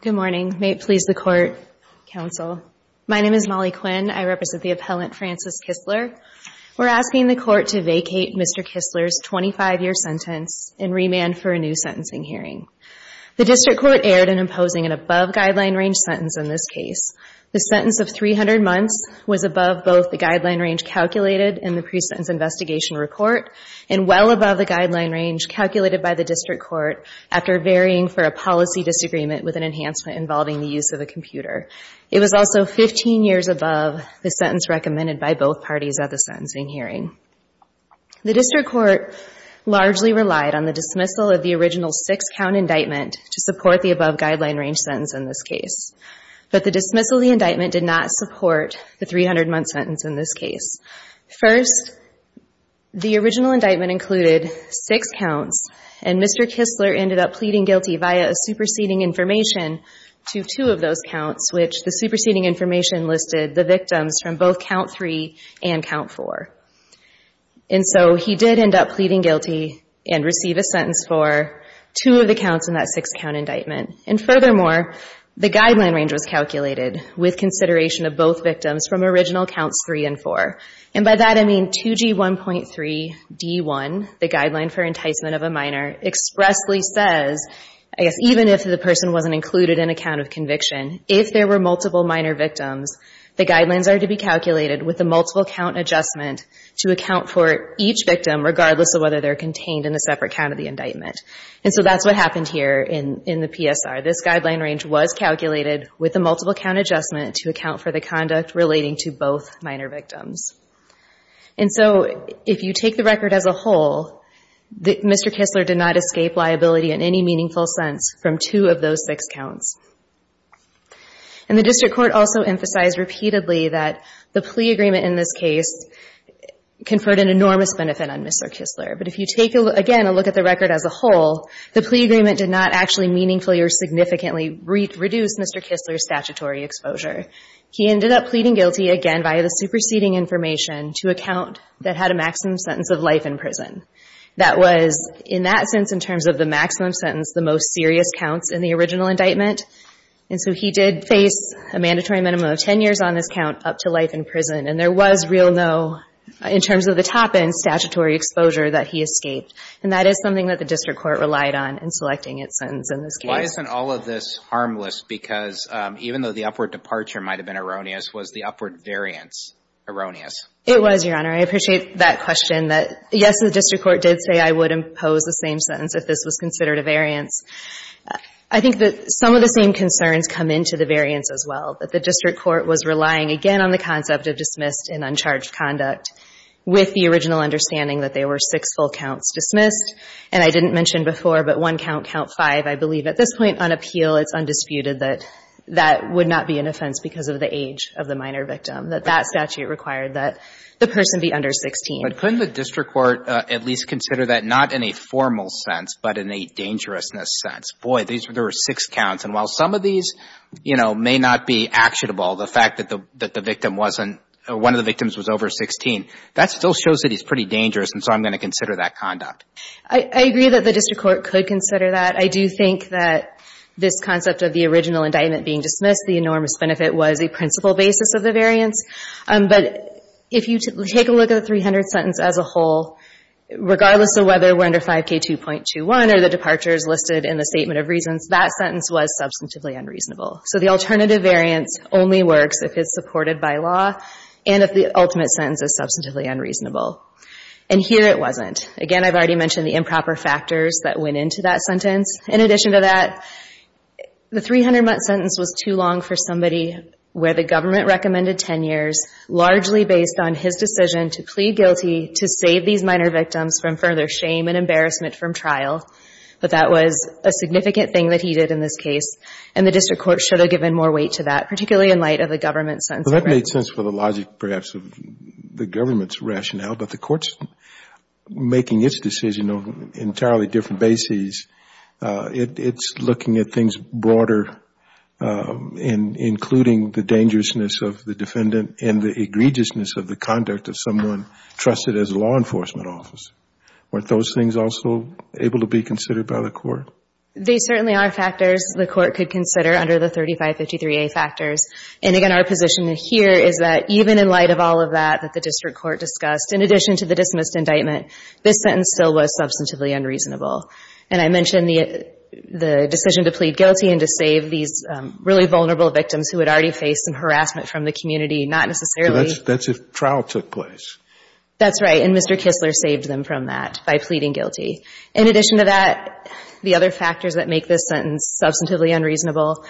Good morning. May it please the Court, Counsel. My name is Molly Quinn. I represent the appellant Francis Kistler. We're asking the Court to vacate Mr. Kistler's 25-year sentence and remand for a new sentencing hearing. The District Court erred in imposing an above-guideline range sentence in this case. The sentence of 300 months was above both the guideline range calculated in the pre-sentence investigation report and well above the guideline range calculated by the District Court after varying for a policy disagreement with an enhancement involving the use of a computer. It was also 15 years above the sentence recommended by both parties at the sentencing hearing. The District Court largely relied on the dismissal of the original six-count indictment to support the above-guideline range sentence in this case. First, the original indictment included six counts, and Mr. Kistler ended up pleading guilty via a superseding information to two of those counts, which the superseding information listed the victims from both count three and count four. And so he did end up pleading guilty and receive a sentence for two of the counts in that six-count indictment. And furthermore, the guideline range was calculated with consideration of both victims from original counts three and four. And by that, I mean 2G1.3D1, the guideline for enticement of a minor, expressly says, I guess even if the person wasn't included in a count of conviction, if there were multiple minor victims, the guidelines are to be calculated with a multiple-count adjustment to account for each victim regardless of whether they're contained in a separate count of the indictment. And so that's what happened here in the PSR. This guideline range was calculated with a conduct relating to both minor victims. And so if you take the record as a whole, Mr. Kistler did not escape liability in any meaningful sense from two of those six counts. And the district court also emphasized repeatedly that the plea agreement in this case conferred an enormous benefit on Mr. Kistler. But if you take, again, a look at the record as a whole, the plea agreement did not actually meaningfully or significantly reduce Mr. Kistler's end up pleading guilty, again, by the superseding information to a count that had a maximum sentence of life in prison. That was, in that sense, in terms of the maximum sentence, the most serious counts in the original indictment. And so he did face a mandatory minimum of 10 years on this count up to life in prison. And there was real no, in terms of the top-end statutory exposure, that he escaped. And that is something that the district court relied on in selecting its sentence in this case. Why isn't all of this harmless? Because even though the upward departure might have been erroneous, was the upward variance erroneous? It was, Your Honor. I appreciate that question. Yes, the district court did say I would impose the same sentence if this was considered a variance. I think that some of the same concerns come into the variance as well, that the district court was relying, again, on the concept of dismissed and uncharged conduct with the original understanding that there were six full counts dismissed. And I didn't mention before, but one count, count five, I believe at this point on appeal, it's undisputed that that would not be an offense because of the age of the minor victim, that that statute required that the person be under 16. But couldn't the district court at least consider that, not in a formal sense, but in a dangerousness sense? Boy, there were six counts. And while some of these, you know, may not be actionable, the fact that the victim wasn't, one of the victims was over 16, that still shows that he's pretty dangerous. And so I'm going to consider that conduct. I agree that the district court could consider that. I do think that this concept of the original indictment being dismissed, the enormous benefit was a principal basis of the variance. But if you take a look at the 300th sentence as a whole, regardless of whether we're under 5K2.21 or the departures listed in the statement of reasons, that sentence was substantively unreasonable. So the alternative variance only works if it's supported by law and if the ultimate sentence is substantively unreasonable. And here it wasn't. Again, I've already mentioned the improper factors that went into that sentence. In addition to that, the 300-month sentence was too long for somebody where the government recommended 10 years, largely based on his decision to plead guilty to save these minor victims from further shame and embarrassment from trial. But that was a significant thing that he did in this case. And the district court should have given more weight to that, particularly in light of the government's rationale, but the court's making its decision on an entirely different basis. It's looking at things broader, including the dangerousness of the defendant and the egregiousness of the conduct of someone trusted as a law enforcement officer. Weren't those things also able to be considered by the court? They certainly are factors the court could consider under the 3553A factors. And again, our position here is that even in light of all of that, that the district court discussed, in addition to the dismissed indictment, this sentence still was substantively unreasonable. And I mentioned the decision to plead guilty and to save these really vulnerable victims who had already faced some harassment from the community, not necessarily So that's if trial took place. That's right. And Mr. Kistler saved them from that by pleading guilty. In addition to that, the other factors that make this sentence substantively unreasonable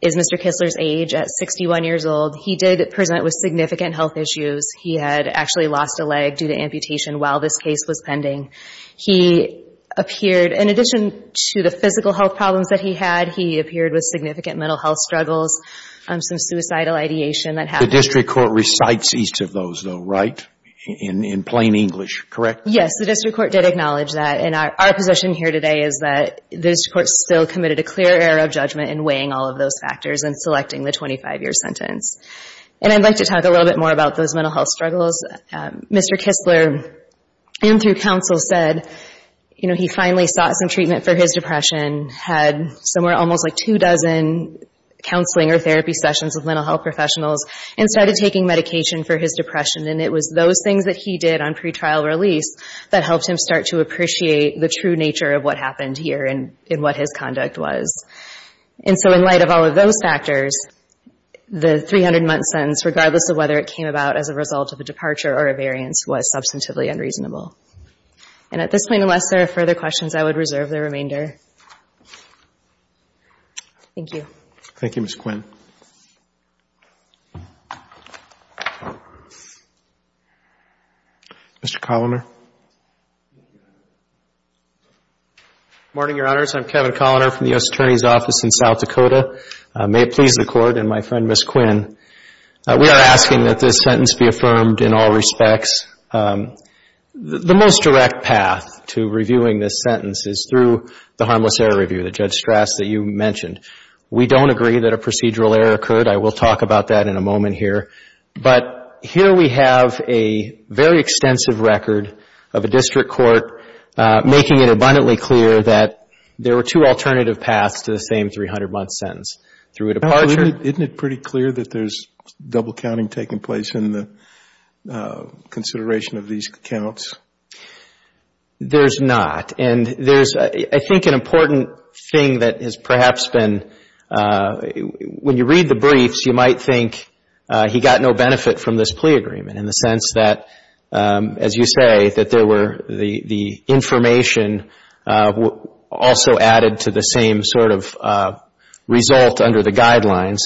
is Mr. Kistler's age. At 61 years old, he did present with significant health issues. He had actually lost a leg due to amputation while this case was pending. He appeared, in addition to the physical health problems that he had, he appeared with significant mental health struggles, some suicidal ideation that happened. The district court recites each of those, though, right? In plain English, correct? Yes. The district court did acknowledge that. And our position here today is that the district court still committed a clear error of judgment in weighing all of those factors and selecting the 25-year sentence. And I'd like to talk a little bit more about those mental health struggles. Mr. Kistler, in through counsel, said, you know, he finally sought some treatment for his depression, had somewhere almost like two dozen counseling or therapy sessions with mental health professionals, and started taking medication for his depression. And it was those things that he did on pretrial release that helped him start to appreciate the true nature of what happened here and in what his conduct was. And so in light of all of those factors, the 300-month sentence, regardless of whether it came about as a result of a departure or a variance, was substantively unreasonable. And at this point, unless there are further questions, I would reserve the remainder. Thank you. Thank you, Ms. Quinn. Mr. Coloner. Good morning, Your Honors. I'm Kevin Coloner from the U.S. Attorney's Office in South Dakota. May it please the Court and my friend, Ms. Quinn, we are asking that this sentence be affirmed in all respects. The most direct path to reviewing this sentence is through the harmless error review that Judge Strass, that you mentioned. We don't agree that a procedural error occurred. I will talk about that in a moment here. But here we have a very extensive record of a district court making it abundantly clear that there were two alternative paths to the same 300-month sentence. Through a departure... Isn't it pretty clear that there's double counting taking place in the consideration of these counts? There's not. And there's, I think, an important thing that has perhaps been, when you read the briefs, you might think he got no benefit from this plea agreement in the sense that, as you say, that there were the information also added to the same sort of result under the guidelines.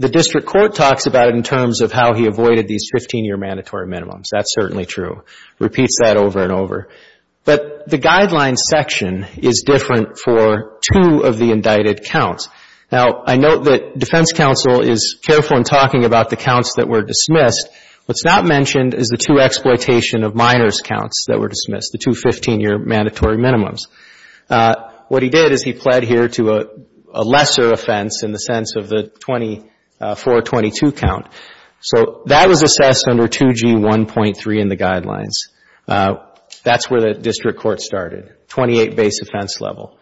The district court talks about it in terms of how he avoided these 15-year mandatory minimums. That's certainly true. Repeats that over and over. But the guidelines section is different for two of the indicted counts. Now, I note that defense counsel is careful in talking about the counts that were dismissed. What's not mentioned is the two exploitation of minors counts that were dismissed, the two 15-year mandatory minimums. What he did is he pled here to a lesser offense in the sense of the 24-22 count. So that was assessed under 2G1.3 in the guidelines. That's where the district court started, 28 base offense level.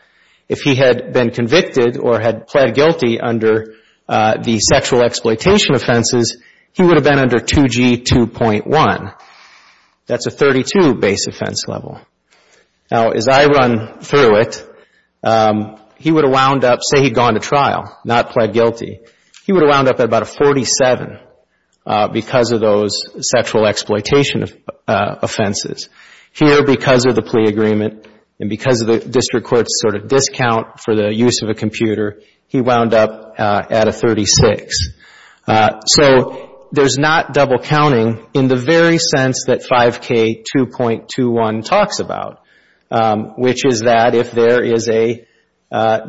If he had been convicted or had pled guilty under the sexual exploitation offenses, he would have been under 2G2.1. That's a 32 base offense level. Now, as I run through it, he would have wound up, say he'd gone to trial, not pled guilty, he would have wound up at about a 47 because of those sexual exploitation offenses. Here, because of the plea agreement and because of the district court's sort of discount for the use of a computer, he wound up at a 36. So there's not double counting in the very sense that 5K2.21 talks about, which is that if there is a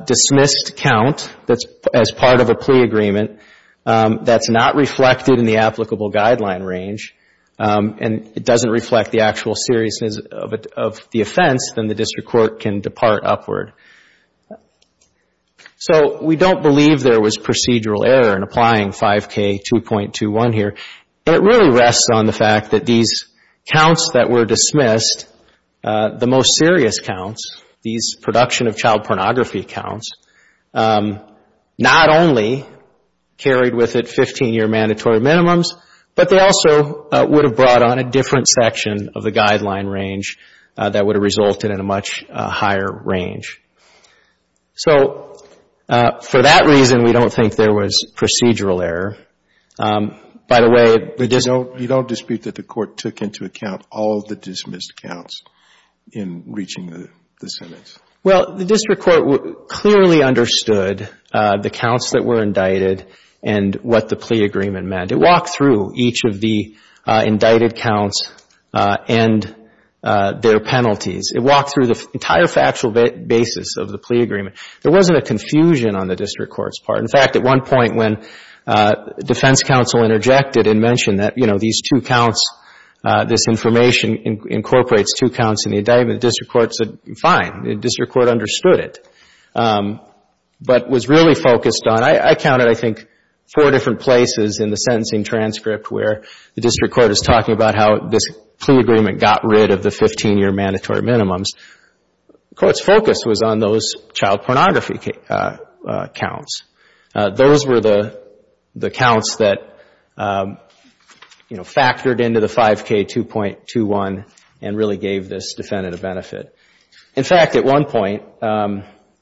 dismissed count that's as part of a plea agreement that's not reflected in the applicable guideline range and it doesn't reflect the actual seriousness of the offense, then the district court can depart upward. So we don't believe there was procedural error in applying 5K2.21 here. And it really rests on the fact that these counts that were dismissed, the most serious counts, these production of child pornography counts, not only carried with it 15-year mandatory minimums, but they also would have brought on a different section of the guideline range that would have resulted in a much higher range. So for that reason, we don't think there was procedural error. By the way, the court took into account all of the dismissed counts in reaching the sentence. Well, the district court clearly understood the counts that were indicted and what the plea agreement meant. It walked through each of the indicted counts and their penalties. It walked through the entire factual basis of the plea agreement. There wasn't a confusion on the district court's part. In fact, at one point when defense counsel interjected and mentioned that, you know, these two counts, this information incorporates two counts in the indictment, the district court said, fine. The district court understood it, but was really focused on, I counted, I think, four different places in the sentencing transcript where the district court is talking about how this plea agreement got rid of the 15-year mandatory minimums, the court's focus was on those child pornography counts. Those were the counts that, you know, factored into the 5K2.21 and really gave this defendant a benefit. In fact, at one point,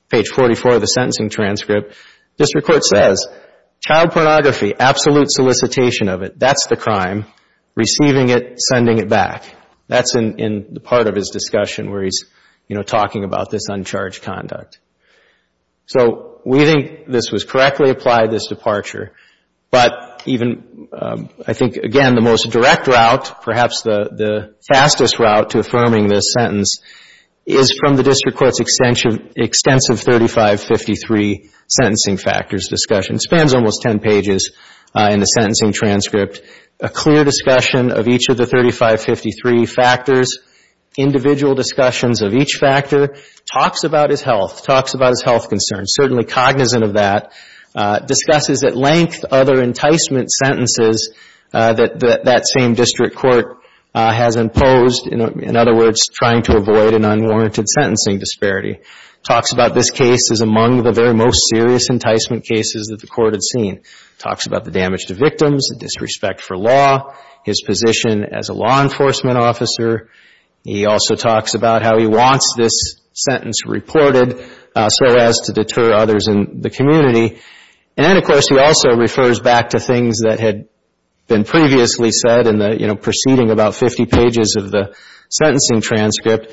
page 44 of the sentencing transcript, district court says child pornography, absolute solicitation of it, that's the crime, receiving it, sending it back. That's in the part of his discussion where he's, you know, talking about this uncharged conduct. So, we think this was correctly applied, this departure, but even, I think, again, the most direct route, perhaps the fastest route to affirming this sentence, is from the district court's extensive 3553 sentencing factors discussion. It spans almost 10 pages in the sentencing transcript. A clear discussion of each of the 3553 factors, individual discussions of each factor, talks about his health, talks about his health concerns, certainly cognizant of that, discusses at length other enticement sentences that that same district court has imposed, in other words, trying to avoid an unwarranted sentencing disparity. Talks about this case as among the very most serious enticement cases that the court had seen. Talks about the damage to victims, disrespect for law, his position as a law enforcement officer. He also talks about how he wants this sentence reported so as to deter others in the community. And then, of course, he also refers back to things that had been previously said in the, you know, preceding about 50 pages of the sentencing transcript.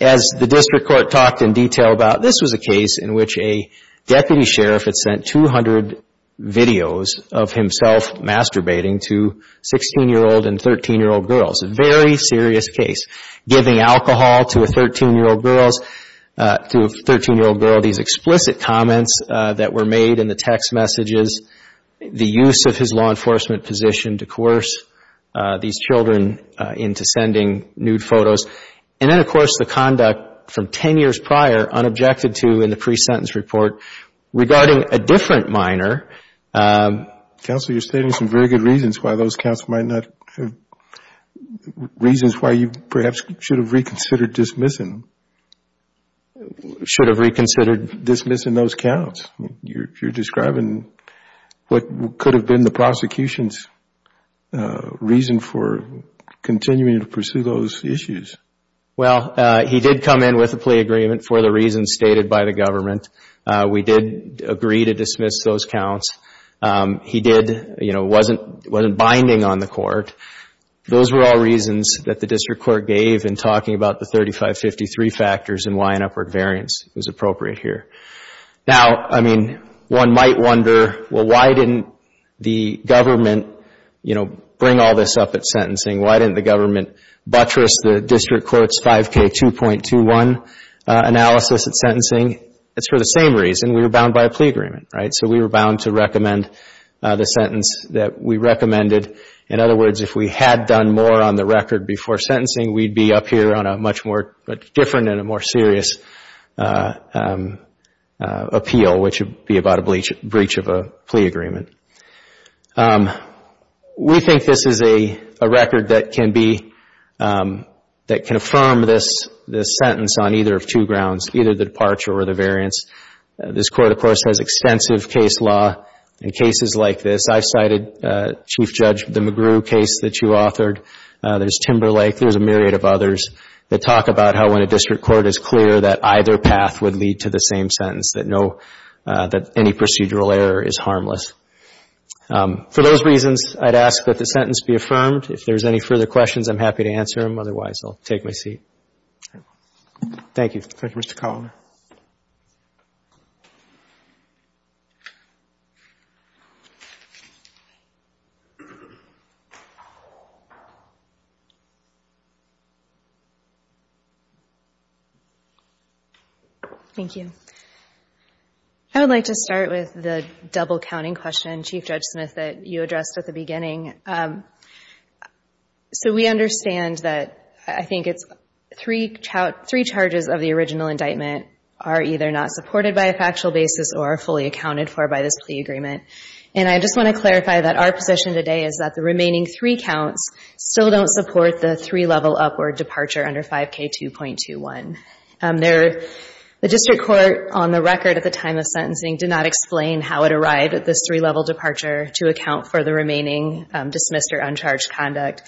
As the district court talked in detail about, this was a case in which a deputy sheriff had sent 200 videos of himself masturbating to 16-year-old and 13-year-old girls. A very serious case. Giving alcohol to a 13-year-old girl. To a 13-year-old girl, these explicit comments that were made in the text messages. The use of his law enforcement position to coerce these children into sending nude photos. And then, of course, the conduct from 10 years prior, unobjected to in the case. Counsel, you're stating some very good reasons why those counts might not have, reasons why you perhaps should have reconsidered dismissing. Should have reconsidered? Dismissing those counts. You're describing what could have been the prosecution's reason for continuing to pursue those issues. Well, he did come in with a plea agreement for the reasons stated by the government. We did agree to dismiss those counts. He did, you know, wasn't binding on the court. Those were all reasons that the district court gave in talking about the 3553 factors and why an upward variance was appropriate here. Now, I mean, one might wonder, well, why didn't the government, you know, bring all this up at sentencing? Why didn't the government buttress the district court's 5K2.21 analysis at sentencing? It's for the same reason. We were bound by a plea agreement, right? So we were bound to recommend the sentence that we recommended. In other words, if we had done more on the record before sentencing, we'd be up here on a much more different and a more serious appeal, which would be about a breach of a plea agreement. We think this is a record that can be, that can affirm this sentence on either of two or the variance. This court, of course, has extensive case law in cases like this. I've cited, Chief Judge, the McGrew case that you authored. There's Timberlake. There's a myriad of others that talk about how when a district court is clear that either path would lead to the same sentence, that no, that any procedural error is harmless. For those reasons, I'd ask that the sentence be affirmed. If there's any further questions, I'm happy to answer them. Otherwise, I'll take my seat. Thank you. Thank you, Mr. Kallner. Thank you. I would like to start with the double-counting question, Chief Judge Smith, that you addressed at the beginning. We understand that I think it's three charges of the original indictment are either not supported by a factual basis or are fully accounted for by this plea agreement. I just want to clarify that our position today is that the remaining three counts still don't support the three-level upward departure under 5K2.21. The district court on the record at the time of sentencing did not explain how it arrived at this three-level departure to account for the remaining dismissed or uncharged conduct.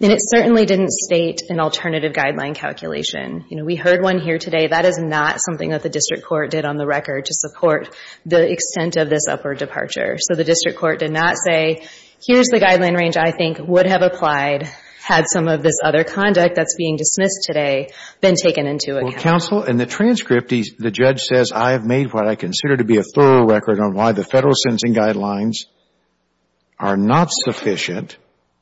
And it certainly didn't state an alternative guideline calculation. You know, we heard one here today. That is not something that the district court did on the record to support the extent of this upward departure. So the district court did not say, here's the guideline range I think would have applied had some of this other conduct that's being dismissed today been taken into account. Well, counsel, in the transcript, the judge says, I have made what I consider to be a thorough record on why the Federal sentencing guidelines are not sufficient,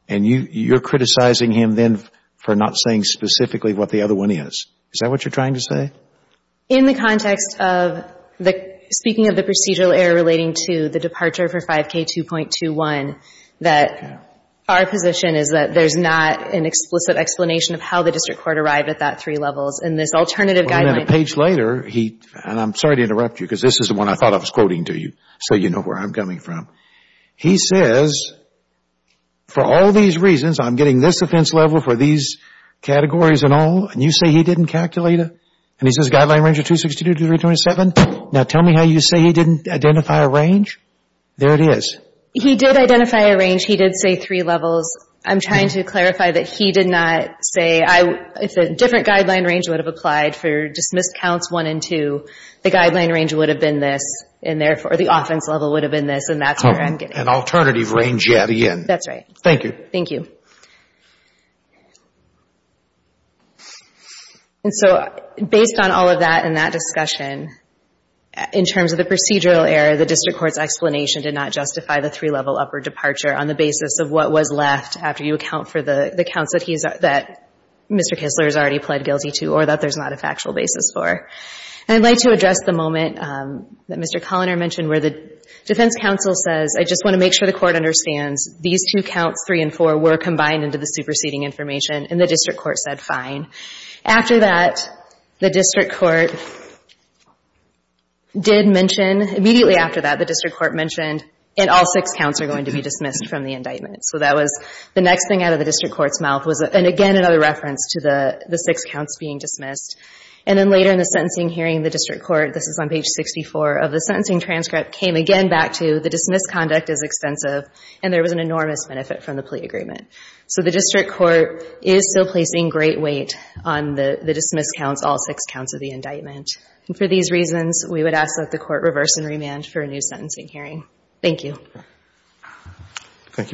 and you're criticizing him then for not saying specifically what the other one is. Is that what you're trying to say? In the context of the — speaking of the procedural error relating to the departure for 5K2.21, that our position is that there's not an explicit explanation of how the district court arrived at that three levels. And this alternative guideline — Well, a minute, a page later, he — and I'm sorry to interrupt you, because this is the one I thought I was quoting to you, so you know where I'm coming from. He says, for all these reasons, I'm getting this offense level for these categories and all, and you say he didn't calculate it? And he says guideline range of 262 to 327? Now, tell me how you say he didn't identify a range? There it is. He did identify a range. He did say three levels. I'm trying to clarify that he did not say I — if a different guideline range would have applied for dismissed counts one and two, the guideline range would have been this, and therefore the offense level would have been this, and that's where I'm getting it. An alternative range, yet again. That's right. Thank you. Thank you. And so, based on all of that and that discussion, in terms of the procedural error, the district court's explanation did not justify the three-level upward departure on the basis of what was left after you account for the counts that he's — that Mr. Kistler has already pled guilty to, or that there's not a factual basis for. And I'd like to address the moment that Mr. Culliner mentioned where the defense counsel says I just want to make sure the court understands these two counts, three and four, were combined into the superseding information, and the district court said fine. After that, the district court did mention — immediately after that, the district court mentioned and all six counts are going to be dismissed from the indictment. So that was the next thing out of the district court's mouth was — and again, another reference to the six counts being dismissed. And then later in the sentencing hearing, the district court — this is on page 64 — of the sentencing transcript came again back to the dismissed conduct is extensive, and there was an enormous benefit from the plea agreement. So the district court is still placing great weight on the dismissed counts, all six counts of the indictment. And for these reasons, we would ask that the court reverse and remand for a new sentencing hearing. Thank you. Thank you, Ms. Culliner.